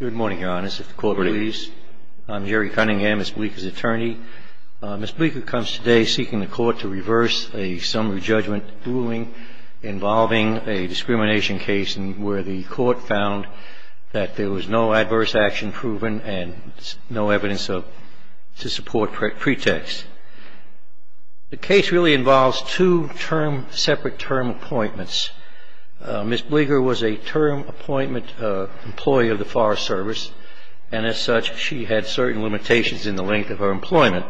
Good morning, Your Honor. I'm Jerry Cunningham, Ms. Bleeker's attorney. Ms. Bleeker comes today seeking the court to reverse a summary judgment ruling involving a discrimination case where the court found that there was no adverse action proven and no evidence to support pretext. The case really involves two separate term appointments. Ms. Bleeker was a term appointment employee of the Forest Service, and as such, she had certain limitations in the length of her employment.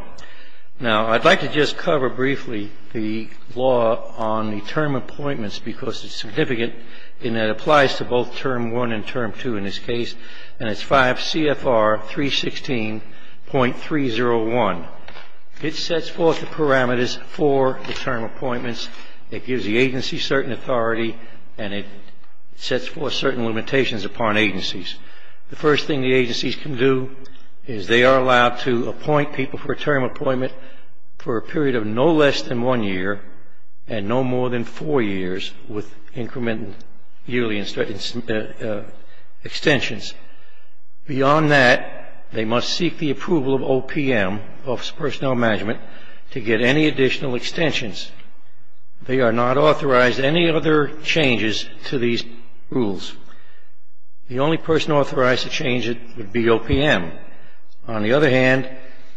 Now, I'd like to just cover briefly the law on the term appointments because it's significant in that it applies to both Term 1 and Term 2 in this case, and it's 5 CFR 316.301. It sets forth the parameters for the term appointments. It gives the agency certain authority, and it sets forth certain limitations upon agencies. The first thing the agencies can do is they are allowed to appoint people for a term appointment for a period of no less than one year and no more than four years with incrementally yearly extensions. Beyond that, they must seek the approval of OPM, Office of Personnel Management, to get any additional extensions. They are not authorized any other changes to these rules. The only person authorized to change it would be OPM. On the other hand,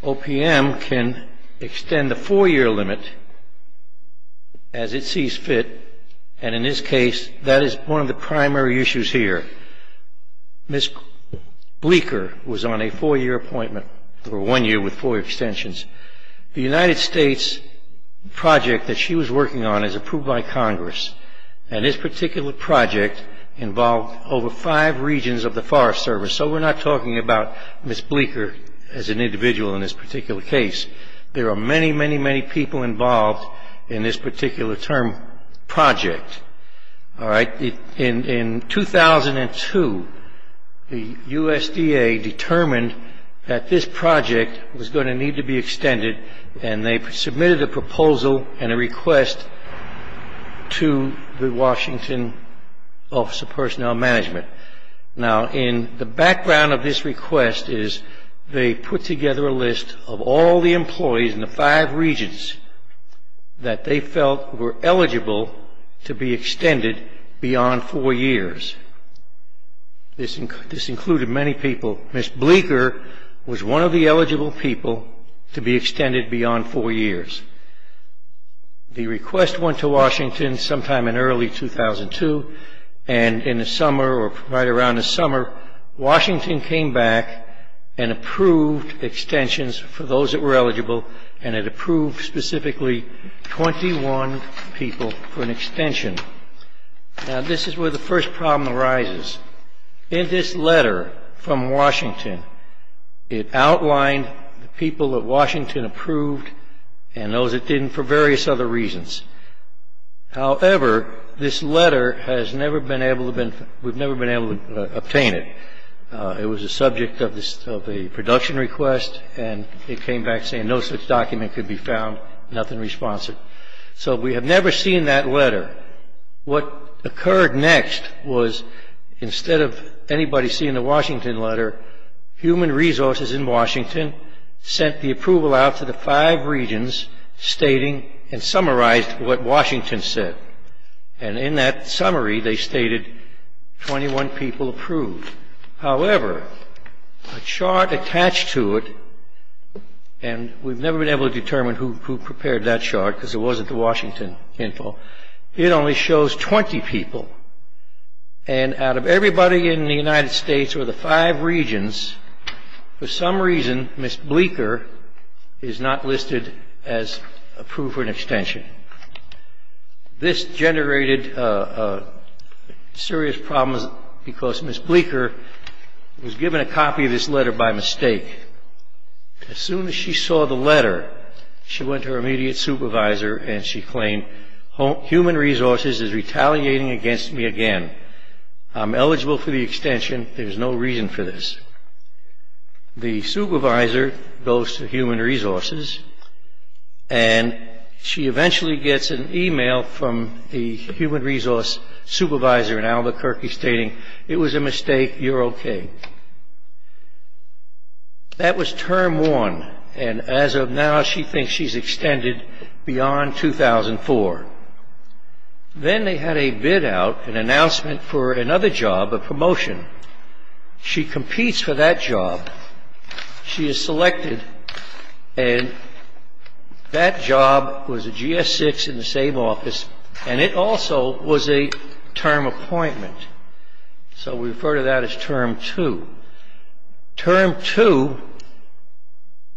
OPM can extend the four-year limit as it sees fit, and in this case, that is one of the primary issues here. Ms. Bleeker was on a four-year appointment for one year with four extensions. The United States project that she was working on is approved by Congress, and this particular project involved over five regions of the Forest Service, so we're not talking about Ms. Bleeker as an individual in this particular case. There are many, many, many people involved in this particular term project. In 2002, the USDA determined that this project was going to need to be extended, and they submitted a proposal and a request to the Washington Office of Personnel Management. Now, in the background of this request is they put together a list of all the employees in the five regions that they felt were eligible to be extended beyond four years. This included many people. Ms. Bleeker was one of the eligible people to be extended beyond four years. The request went to Washington sometime in early 2002, and in the summer or right around the summer, Washington came back and approved extensions for those that were eligible, and it approved specifically 21 people for an extension. Now, this is where the first problem arises. In this letter from Washington, it outlined the people that Washington approved and those it didn't for various other reasons. However, this letter has never been able to – we've never been able to obtain it. It was a subject of a production request, and it came back saying no such document could be found, nothing responsive. However, what occurred next was instead of anybody seeing the Washington letter, Human Resources in Washington sent the approval out to the five regions stating and summarized what Washington said. And in that summary, they stated 21 people approved. However, a chart attached to it – and we've never been able to determine who prepared that chart because it wasn't the Washington info – it only shows 20 people. And out of everybody in the United States or the five regions, for some reason, Ms. Bleeker is not listed as approved for an extension. This generated serious problems because Ms. Bleeker was given a copy of this letter by mistake. As soon as she saw the letter, she went to her immediate supervisor and she claimed, Human Resources is retaliating against me again. I'm eligible for the extension. There's no reason for this. The supervisor goes to Human Resources, and she eventually gets an email from the Human Resources supervisor, it was a mistake, you're okay. That was term one, and as of now, she thinks she's extended beyond 2004. Then they had a bid out, an announcement for another job, a promotion. She competes for that job. She is selected, and that job was a GS-6 in the same office, and it also was a term appointment. So we refer to that as term two. Term two,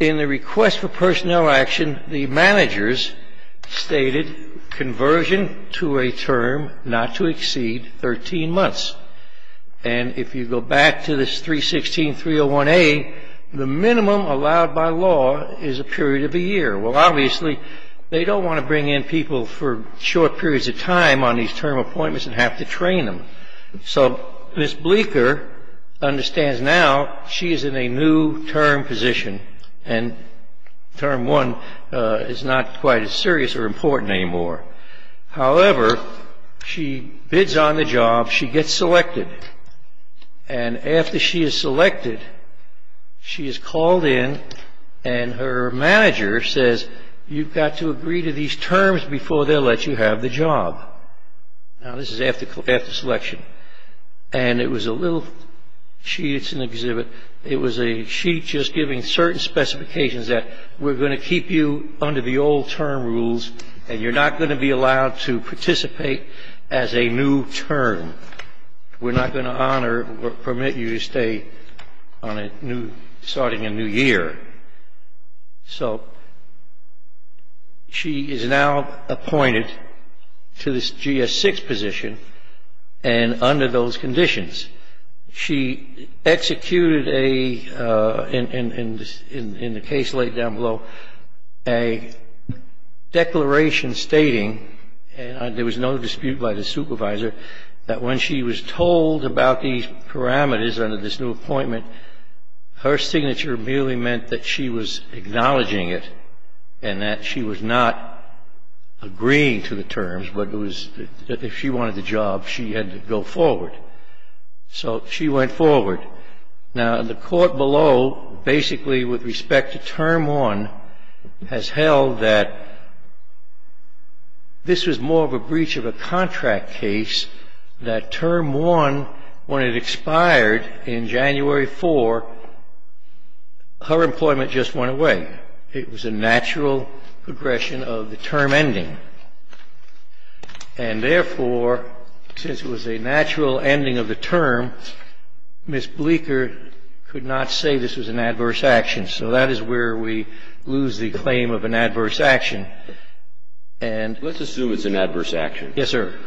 in the request for personnel action, the managers stated conversion to a term not to exceed 13 months. And if you go back to this 316.301A, the minimum allowed by law is a period of a year. Well, obviously, they don't want to bring in people for short periods of time on these term appointments and have to train them. So Ms. Bleeker understands now she is in a new term position, and term one is not quite as serious or important anymore. However, she bids on the job. She gets selected. And after she is selected, she is called in, and her manager says, you've got to agree to these terms before they'll let you have the job. Now, this is after selection, and it was a little sheet. It's an exhibit. It was a sheet just giving certain specifications that we're going to keep you under the old term rules, and you're not going to be allowed to participate as a new term. We're not going to honor or permit you to stay starting a new year. So she is now appointed to this GS-6 position, and under those conditions. She executed a, in the case laid down below, a declaration stating, and there was no dispute by the supervisor, that when she was told about these parameters under this new appointment, her signature merely meant that she was acknowledging it and that she was not agreeing to the terms, but it was that if she wanted the job, she had to go forward. So she went forward. Now, the court below, basically with respect to Term 1, has held that this was more of a breach of a contract case, that Term 1, when it expired in January 4, her employment just went away. It was a natural progression of the term ending, and therefore, since it was a natural ending of the term, Ms. Bleeker could not say this was an adverse action. So that is where we lose the claim of an adverse action. And ---- Let's assume it's an adverse action. Yes, sir.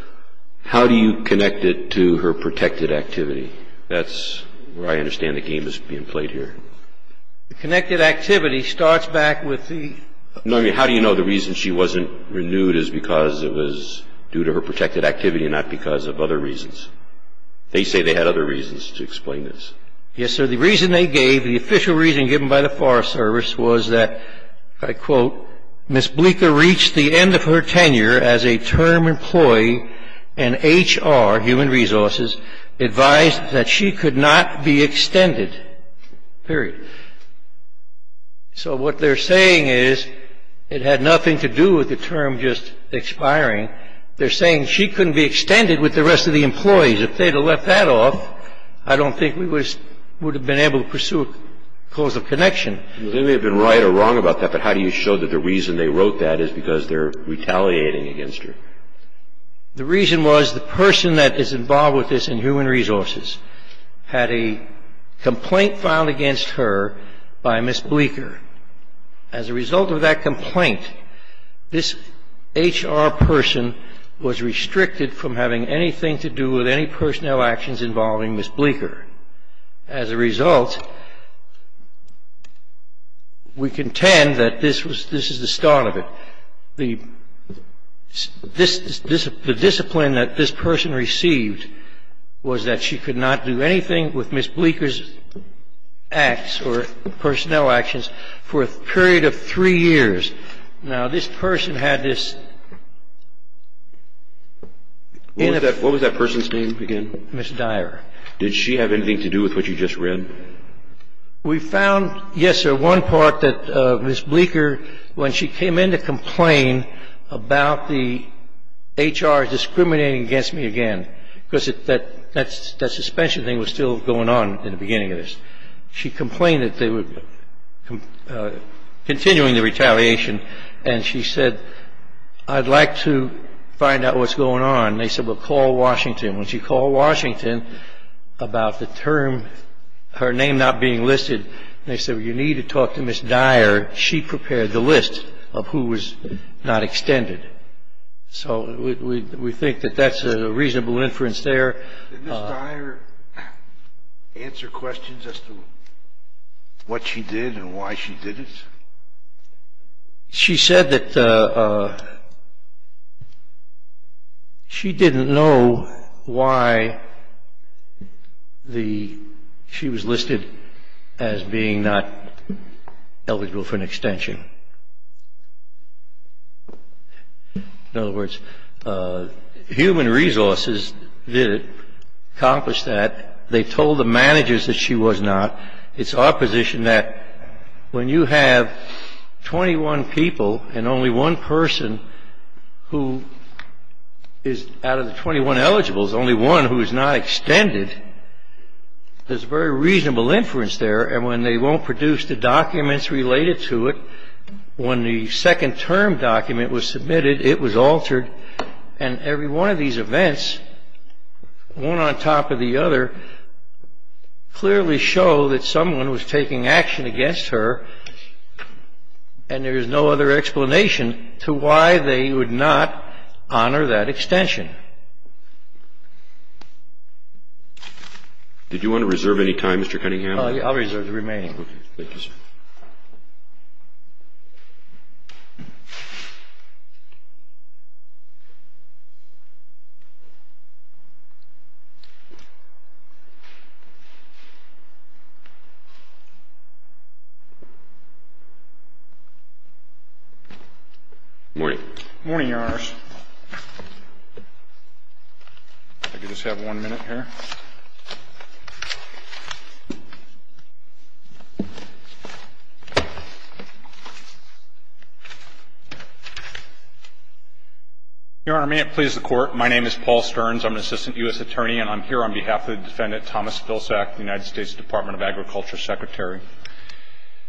How do you connect it to her protected activity? That's where I understand the game is being played here. The connected activity starts back with the ---- And the reason why they do it is because it was due to her protected activity and not because of other reasons. They say they had other reasons to explain this. Yes, sir. The reason they gave, the official reason given by the Forest Service was that, I quote, Ms. Bleeker reached the end of her tenure as a term employee, and HR, human resources, advised that she could not be extended. Period. So what they're saying is it had nothing to do with the term just expiring. They're saying she couldn't be extended with the rest of the employees. If they'd have left that off, I don't think we would have been able to pursue a cause of connection. They may have been right or wrong about that, but how do you show that the reason they wrote that is because they're retaliating against her? The reason was the person that is involved with this in human resources had a complaint filed against her by Ms. Bleeker. As a result of that complaint, this HR person was restricted from having anything to do with any personnel actions involving Ms. Bleeker. As a result, we contend that this is the start of it. The discipline that this person received was that she could not do anything with Ms. Bleeker's acts or personnel actions for a period of three years. Now, this person had this... What was that person's name again? Ms. Dyer. Did she have anything to do with what you just read? We found, yes, sir, one part that Ms. Bleeker, when she came in to complain about the HR discriminating against me again, because that suspension thing was still going on in the beginning of this, she complained that they were continuing the retaliation, and she said, I'd like to find out what's going on. And they said, well, call Washington. When she called Washington about the term, her name not being listed, they said, well, you need to talk to Ms. Dyer. She prepared the list of who was not extended. So we think that that's a reasonable inference there. Did Ms. Dyer answer questions as to what she did and why she did it? She said that she didn't know why she was listed as being not eligible for an extension. In other words, human resources did accomplish that. They told the managers that she was not. It's opposition that when you have 21 people and only one person who is out of the 21 eligibles, only one who is not extended, there's a very reasonable inference there. And when they won't produce the documents related to it, when the second-term document was submitted, it was altered. And every one of these events, one on top of the other, clearly show that someone was taking action against her, and there is no other explanation to why they would not honor that extension. Did you want to reserve any time, Mr. Cunningham? I'll reserve the remaining. Okay. Thank you, sir. Thank you. Morning. Morning, Your Honors. If I could just have one minute here. Your Honor, may it please the Court. My name is Paul Stearns. I'm an assistant U.S. attorney, and I'm here on behalf of the defendant, Thomas Vilsack, the United States Department of Agriculture Secretary.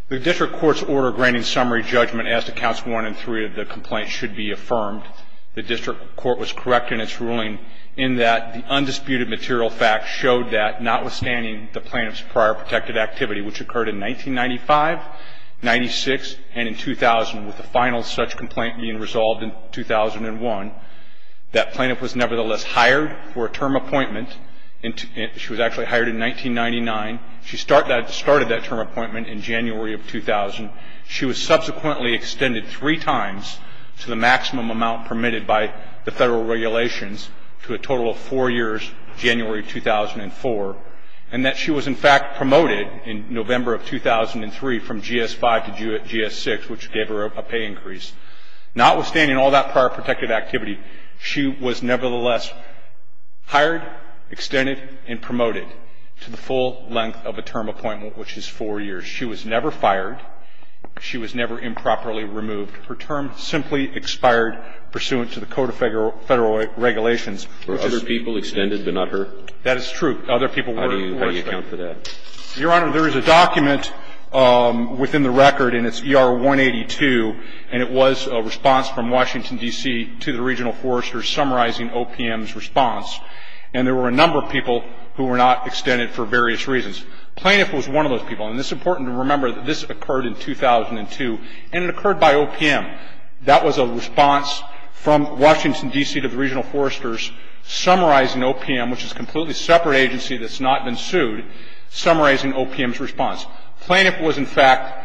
The district court's order granting summary judgment as to counts one and three of the complaint should be affirmed. The district court was correct in its ruling in that the undisputed material facts showed that, notwithstanding the plaintiff's prior protected activity, which occurred in 1995, 96, and in 2000, with the final such complaint being resolved in 2001, that plaintiff was nevertheless hired for a term appointment. She was actually hired in 1999. She started that term appointment in January of 2000. She was subsequently extended three times to the maximum amount permitted by the federal regulations to a total of four years, January 2004, and that she was in fact promoted in November of 2003 from GS-5 to GS-6, which gave her a pay increase. Notwithstanding all that prior protected activity, she was nevertheless hired, extended, and promoted to the full length of a term appointment, which is four years. She was never fired. She was never improperly removed. Her term simply expired pursuant to the Code of Federal Regulations. Were other people extended but not her? That is true. Other people were. How do you account for that? Your Honor, there is a document within the record, and it's ER-182, and it was a response from Washington, D.C. to the regional foresters summarizing OPM's response, and there were a number of people who were not extended for various reasons. Plaintiff was one of those people, and it's important to remember that this occurred in 2002, and it occurred by OPM. That was a response from Washington, D.C. to the regional foresters summarizing OPM, which is a completely separate agency that's not been sued, summarizing OPM's response. Plaintiff was, in fact,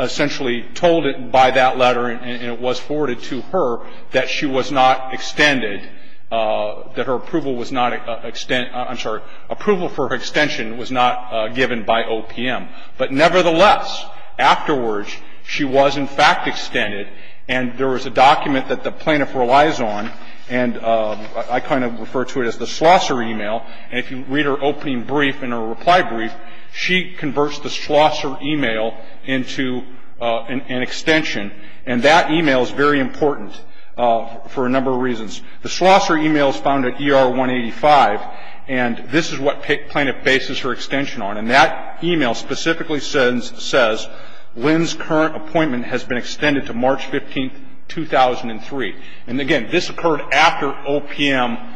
essentially told by that letter, and it was forwarded to her, that she was not extended, that her approval was not extent – I'm sorry, approval for extension was not given by OPM. But nevertheless, afterwards, she was, in fact, extended, and there was a document that the plaintiff relies on, and I kind of refer to it as the Schlosser email, and if you read her opening brief and her reply brief, she converts the Schlosser email into an extension, and that email is very important for a number of reasons. The Schlosser email is found at ER-185, and this is what plaintiff bases her extension on, and that email specifically says, Lynn's current appointment has been extended to March 15, 2003. And again, this occurred after OPM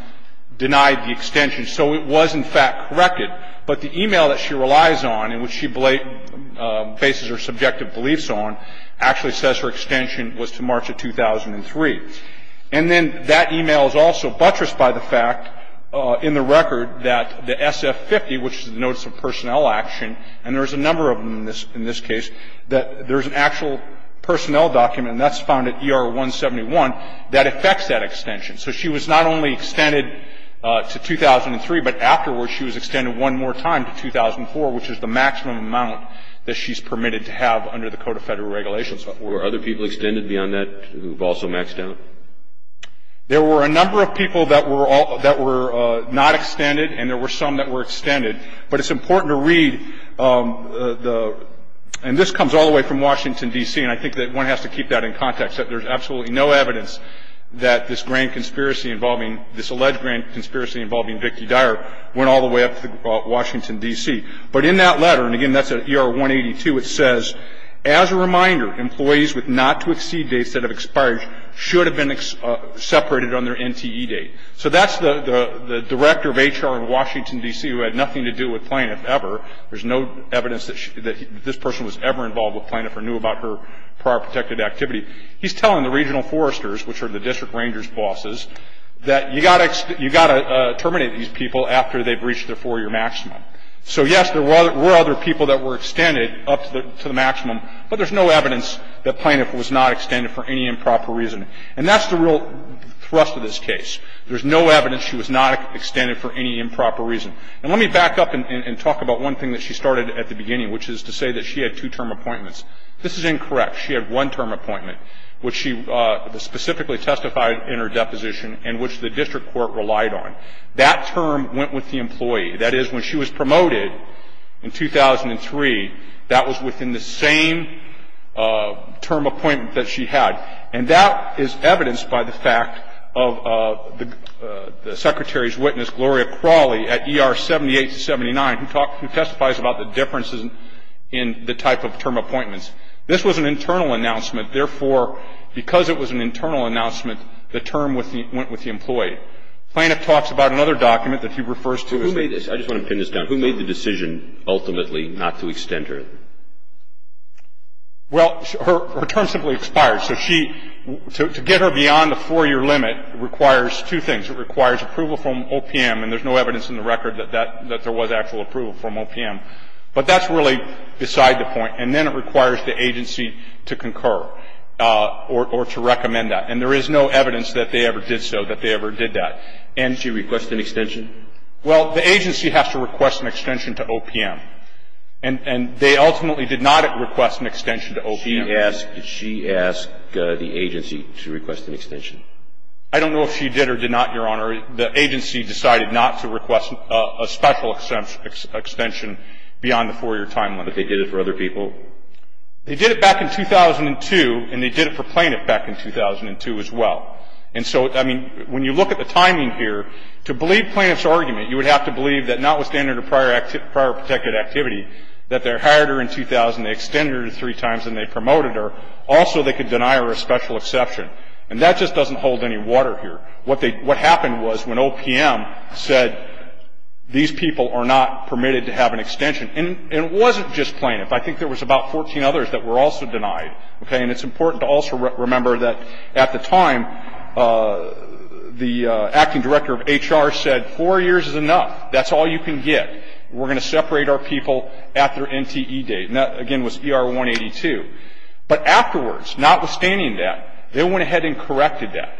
denied the extension, so it was, in fact, corrected. But the email that she relies on, and which she bases her subjective beliefs on, actually says her extension was to March of 2003. And then that email is also buttressed by the fact in the record that the SF50, which is the Notice of Personnel Action, and there's a number of them in this case, that there's an actual personnel document, and that's found at ER-171, that affects that extension. So she was not only extended to 2003, but afterwards she was extended one more time to 2004, which is the maximum amount that she's permitted to have under the Code of Federal Regulations. Were other people extended beyond that who've also maxed out? There were a number of people that were not extended, and there were some that were extended. But it's important to read the – and this comes all the way from Washington, D.C., and I think that one has to keep that in context, that there's absolutely no evidence that this grand conspiracy involving – this alleged grand conspiracy involving Vicki Dyer went all the way up to Washington, D.C. But in that letter, and again, that's at ER-182, it says, as a reminder, employees with not-to-exceed dates that have expired should have been separated on their NTE date. So that's the director of HR in Washington, D.C., who had nothing to do with Plaintiff ever. There's no evidence that this person was ever involved with Plaintiff or knew about her prior protected activity. He's telling the regional foresters, which are the district rangers' bosses, that you've got to terminate these people after they've reached their four-year maximum. So, yes, there were other people that were extended up to the maximum, but there's no evidence that Plaintiff was not extended for any improper reason. And that's the real thrust of this case. There's no evidence she was not extended for any improper reason. And let me back up and talk about one thing that she started at the beginning, which is to say that she had two-term appointments. This is incorrect. She had one-term appointment, which she specifically testified in her deposition and which the district court relied on. That term went with the employee. That is, when she was promoted in 2003, that was within the same term appointment that she had. And that is evidenced by the fact of the Secretary's witness, Gloria Crawley, at ER 78-79, who testified about the differences in the type of term appointments. This was an internal announcement. Therefore, because it was an internal announcement, the term went with the employee. Plaintiff talks about another document that he refers to as the case. I just want to pin this down. Who made the decision ultimately not to extend her? Well, her term simply expired. So she to get her beyond the 4-year limit requires two things. It requires approval from OPM, and there's no evidence in the record that that, that there was actual approval from OPM. But that's really beside the point. And then it requires the agency to concur or to recommend that. And there is no evidence that they ever did so, that they ever did that. And she requested an extension? Well, the agency has to request an extension to OPM. And they ultimately did not request an extension to OPM. Did she ask the agency to request an extension? I don't know if she did or did not, Your Honor. The agency decided not to request a special extension beyond the 4-year timeline. But they did it for other people? They did it back in 2002, and they did it for Plaintiff back in 2002 as well. And so, I mean, when you look at the timing here, to believe Plaintiff's argument, you would have to believe that notwithstanding her prior protected activity, that they hired her in 2000, they extended her three times, and they promoted her, all so they could deny her a special exception. And that just doesn't hold any water here. What happened was when OPM said these people are not permitted to have an extension, and it wasn't just Plaintiff. I think there was about 14 others that were also denied. Okay? And it's important to also remember that at the time, the acting director of HR said, four years is enough. That's all you can get. We're going to separate our people at their NTE date. And that, again, was ER 182. But afterwards, notwithstanding that, they went ahead and corrected that.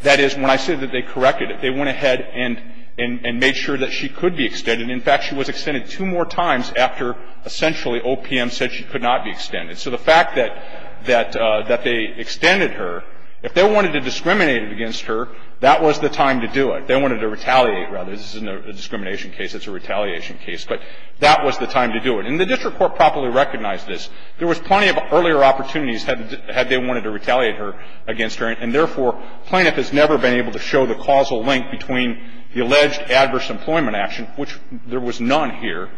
That is, when I say that they corrected it, they went ahead and made sure that she could be extended. And in fact, she was extended two more times after essentially OPM said she could not be extended. So the fact that they extended her, if they wanted to discriminate against her, that was the time to do it. They wanted to retaliate, rather. This isn't a discrimination case, it's a retaliation case. But that was the time to do it. And the district court properly recognized this. There was plenty of earlier opportunities had they wanted to retaliate her against her, and therefore, Plaintiff has never been able to show the causal link between the alleged adverse employment action, which there was none here,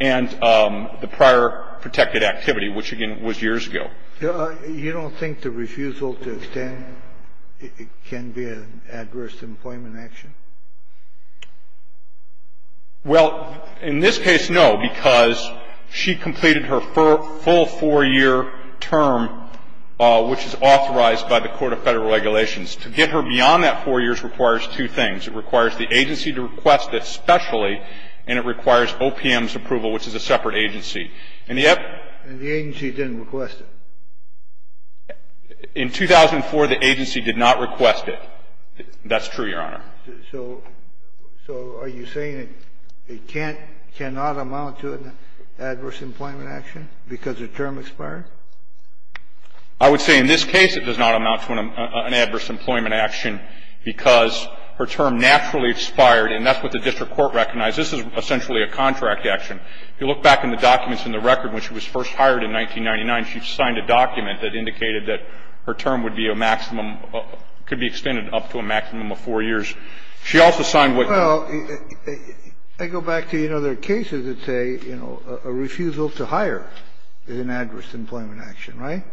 and the prior protected activity, which, again, was years ago. You don't think the refusal to extend can be an adverse employment action? Well, in this case, no, because she completed her full four-year term, which is authorized by the Court of Federal Regulations. To get her beyond that four years requires two things. It requires the agency to request it specially, and it requires OPM's approval, which is a separate agency. And yet the agency didn't request it. In 2004, the agency did not request it. That's true, Your Honor. So are you saying it can't, cannot amount to an adverse employment action because her term expired? I would say in this case it does not amount to an adverse employment action because her term naturally expired, and that's what the district court recognized. This is essentially a contract action. If you look back in the documents in the record, when she was first hired in 1999, she signed a document that indicated that her term would be a maximum, could be extended up to a maximum of four years. She also signed what you're saying. Well, I go back to, you know, there are cases that say, you know, a refusal to hire is an adverse employment action, right?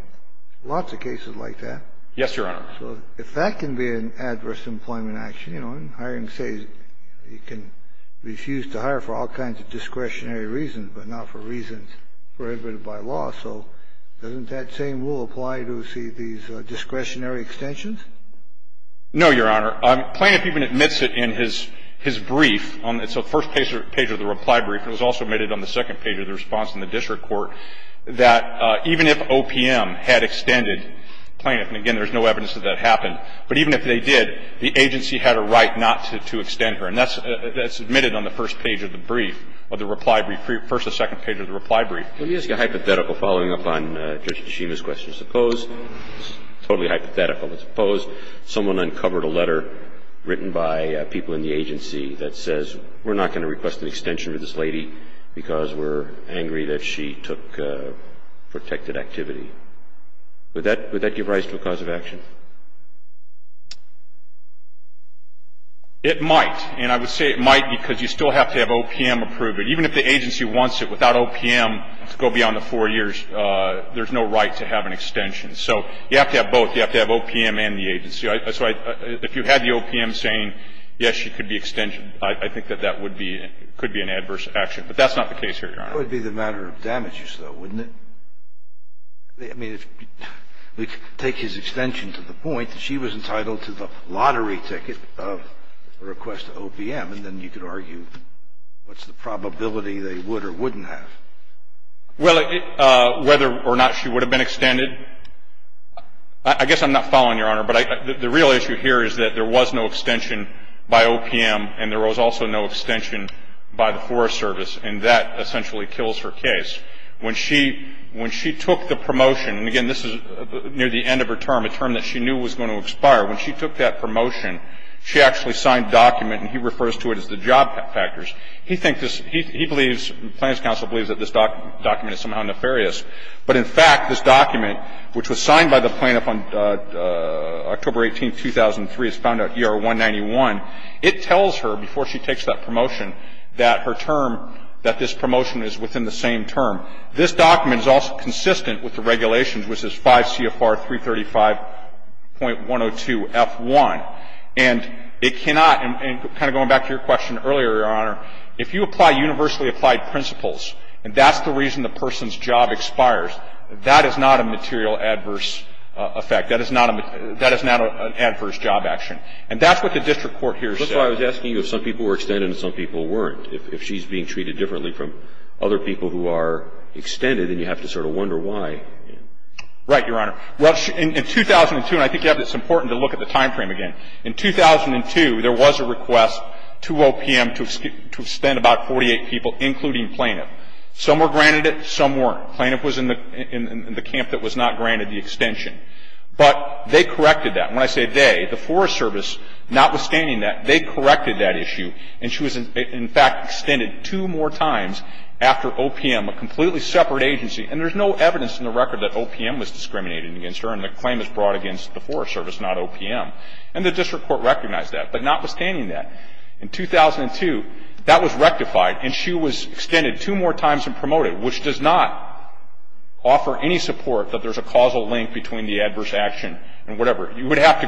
Lots of cases like that. Yes, Your Honor. So if that can be an adverse employment action, you know, and hiring says you can refuse to hire for all kinds of discretionary reasons but not for reasons prohibited by law, so doesn't that same rule apply to, say, these discretionary extensions? No, Your Honor. Plaintiff even admits it in his brief. It's the first page of the reply brief. It was also admitted on the second page of the response in the district court that even if OPM had extended plaintiff, and again, there's no evidence that that happened, but even if they did, the agency had a right not to extend her. And that's admitted on the first page of the brief, of the reply brief, first and second page of the reply brief. Let me ask you a hypothetical following up on Judge Nishima's question. Suppose, totally hypothetical, but suppose someone uncovered a letter written by people in the agency that says we're not going to request an extension for this protected activity. Would that give rise to a cause of action? It might. And I would say it might because you still have to have OPM approve it. Even if the agency wants it, without OPM, to go beyond the 4 years, there's no right to have an extension. So you have to have both. You have to have OPM and the agency. So if you had the OPM saying, yes, she could be extended, I think that that would be an adverse action. But that's not the case here, Your Honor. That would be the matter of damages, though, wouldn't it? I mean, if we take his extension to the point that she was entitled to the lottery ticket of a request to OPM, and then you could argue what's the probability they would or wouldn't have. Well, whether or not she would have been extended, I guess I'm not following, Your Honor. But the real issue here is that there was no extension by OPM, and there was also no extension by the Forest Service. And that essentially kills her case. When she took the promotion, and again, this is near the end of her term, a term that she knew was going to expire. When she took that promotion, she actually signed a document, and he refers to it as the job factors. He thinks this he believes, the Plaintiff's counsel believes that this document is somehow nefarious. But in fact, this document, which was signed by the plaintiff on October 18, 2003, is found at ER191, it tells her before she takes that promotion that her term, that this promotion is within the same term. This document is also consistent with the regulations, which is 5 CFR 335.102F1. And it cannot, and kind of going back to your question earlier, Your Honor, if you apply universally applied principles, and that's the reason the person's job expires, that is not a material adverse effect. That is not an adverse job action. And that's what the district court here says. So I was asking if some people were extended and some people weren't. If she's being treated differently from other people who are extended, then you have to sort of wonder why. Right, Your Honor. Well, in 2002, and I think it's important to look at the time frame again, in 2002, there was a request to OPM to extend about 48 people, including Plaintiff. Some were granted it, some weren't. Plaintiff was in the camp that was not granted the extension. But they corrected that. And when I say they, the Forest Service, notwithstanding that, they corrected that issue. And she was, in fact, extended two more times after OPM, a completely separate agency. And there's no evidence in the record that OPM was discriminating against her and the claim is brought against the Forest Service, not OPM. And the district court recognized that. But notwithstanding that, in 2002, that was rectified and she was extended two more times and promoted, which does not offer any support that there's a causal link between the adverse action and whatever. You would have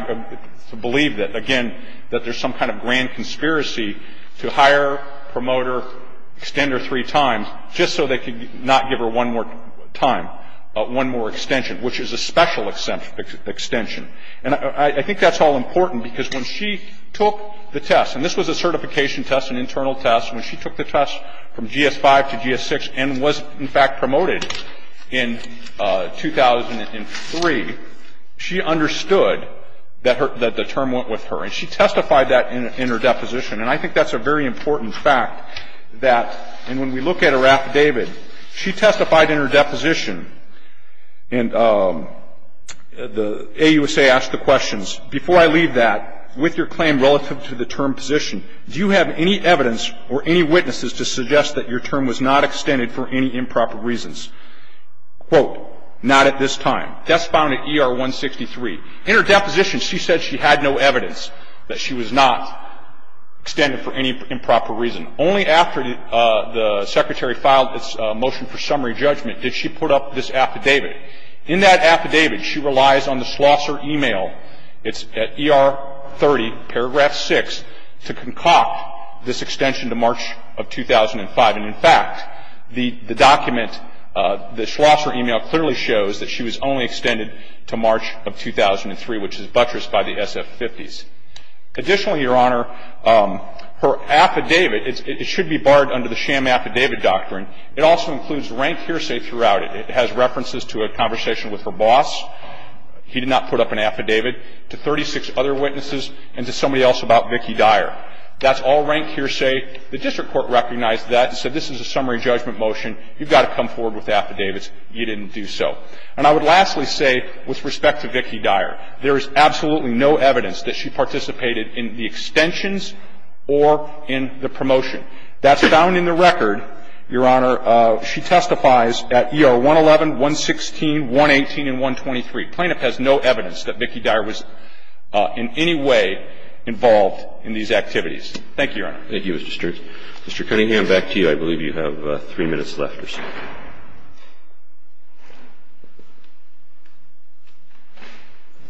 to believe that, again, that there's some kind of grand conspiracy to hire, promote her, extend her three times just so they could not give her one more time, one more extension, which is a special extension. And I think that's all important because when she took the test, and this was a certification test, an internal test, when she took the test from GS-5 to GS-6 and was, in fact, promoted in 2003, she understood that the term went with her. And she testified that in her deposition. And I think that's a very important fact, that when we look at her affidavit, she testified in her deposition. And the AUSA asked the questions, before I leave that, with your claim relative to the term position, do you have any evidence or any witnesses to suggest that your term was not extended for any improper reasons? Quote, not at this time. That's found at ER-163. In her deposition, she said she had no evidence that she was not extended for any improper reason. Only after the Secretary filed its motion for summary judgment did she put up this affidavit. In that affidavit, she relies on the Schlosser e-mail. It's at ER-30, paragraph 6, to concoct this extension to March of 2005. And in fact, the document, the Schlosser e-mail clearly shows that she was only extended to March of 2003, which is buttressed by the SF-50s. Additionally, Your Honor, her affidavit, it should be barred under the sham affidavit doctrine. It also includes rank hearsay throughout it. It has references to a conversation with her boss. He did not put up an affidavit, to 36 other witnesses, and to somebody else about Vicki Dyer. That's all rank hearsay. The district court recognized that and said this is a summary judgment motion. You've got to come forward with affidavits. You didn't do so. And I would lastly say, with respect to Vicki Dyer, there is absolutely no evidence that she participated in the extensions or in the promotion. That's found in the record, Your Honor. She testifies at ER-111, 116, 118, and 123. Plaintiff has no evidence that Vicki Dyer was in any way involved in these activities. Thank you, Your Honor. Thank you, Mr. Stern. Mr. Cunningham, back to you. I believe you have three minutes left or so.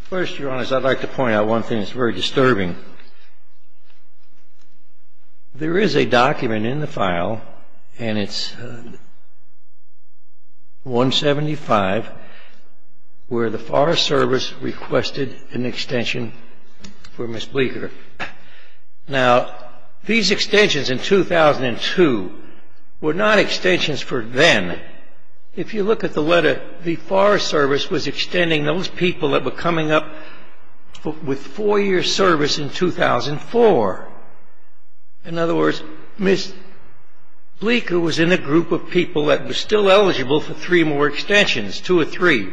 First, Your Honor, I'd like to point out one thing that's very disturbing. There is a document in the file, and it's 175, where the Forest Service requested an extension for Ms. Bleeker. Now, these extensions in 2002 were not extensions for then. If you look at the letter, the Forest Service was extending those people that were coming up with four-year service in 2004. In other words, Ms. Bleeker was in a group of people that was still eligible for three more extensions, two or three.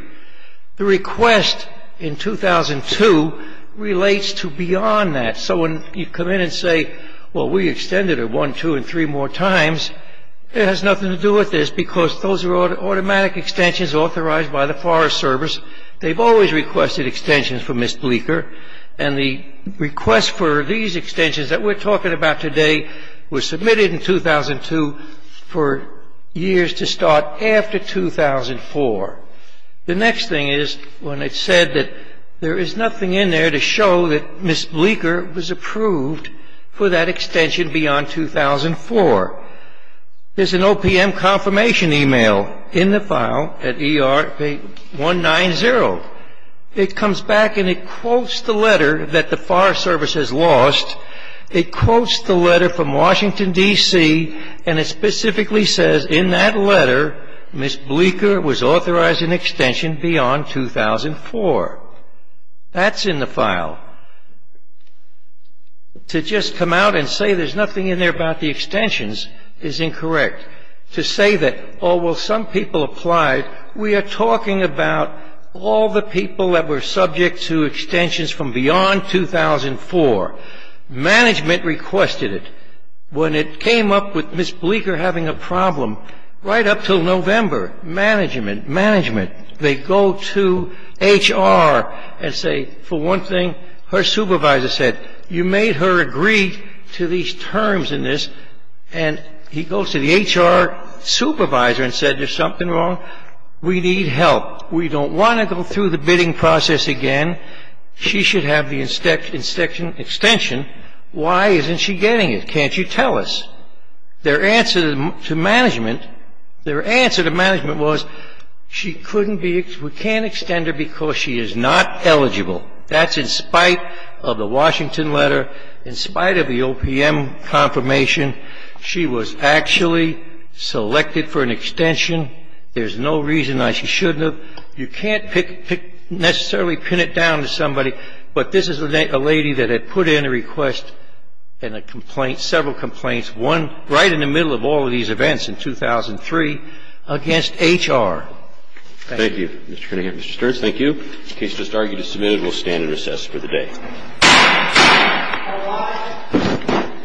The request in 2002 relates to beyond that. So when you come in and say, well, we extended her one, two, and three more times, it has nothing to do with this because those are automatic extensions authorized by the Forest Service. They've always requested extensions for Ms. Bleeker, and the request for these extensions that we're talking about today were submitted in 2002 for years to start after 2004. The next thing is when it's said that there is nothing in there to show that Ms. Bleeker was approved for that extension beyond 2004. There's an OPM confirmation email in the file at ER190. It comes back and it quotes the letter that the Forest Service has lost. It quotes the letter from Washington, D.C., and it specifically says, in that letter, Ms. Bleeker was authorized an extension beyond 2004. That's in the file. To just come out and say there's nothing in there about the extensions is incorrect. To say that, oh, well, some people applied, we are talking about all the people that were subject to extensions from beyond 2004. Management requested it. When it came up with Ms. Bleeker having a problem, right up until November, management, management, they go to HR and say, for one thing, her supervisor said, you made her agree to these terms in this. And he goes to the HR supervisor and said, there's something wrong. We need help. We don't want to go through the bidding process again. She should have the extension. Why isn't she getting it? Can't you tell us? Their answer to management, their answer to management was, she couldn't be, we can't extend her because she is not eligible. That's in spite of the Washington letter, in spite of the OPM confirmation. She was actually selected for an extension. There's no reason why she shouldn't have. And so, in a way, you can't pick, necessarily pin it down to somebody, but this is a lady that had put in a request and a complaint, several complaints, one right in the middle of all of these events in 2003 against HR. Thank you. Mr. Cunningham. Mr. Sturz, thank you. The case just argued and submitted. We'll stand and recess for the day. All rise.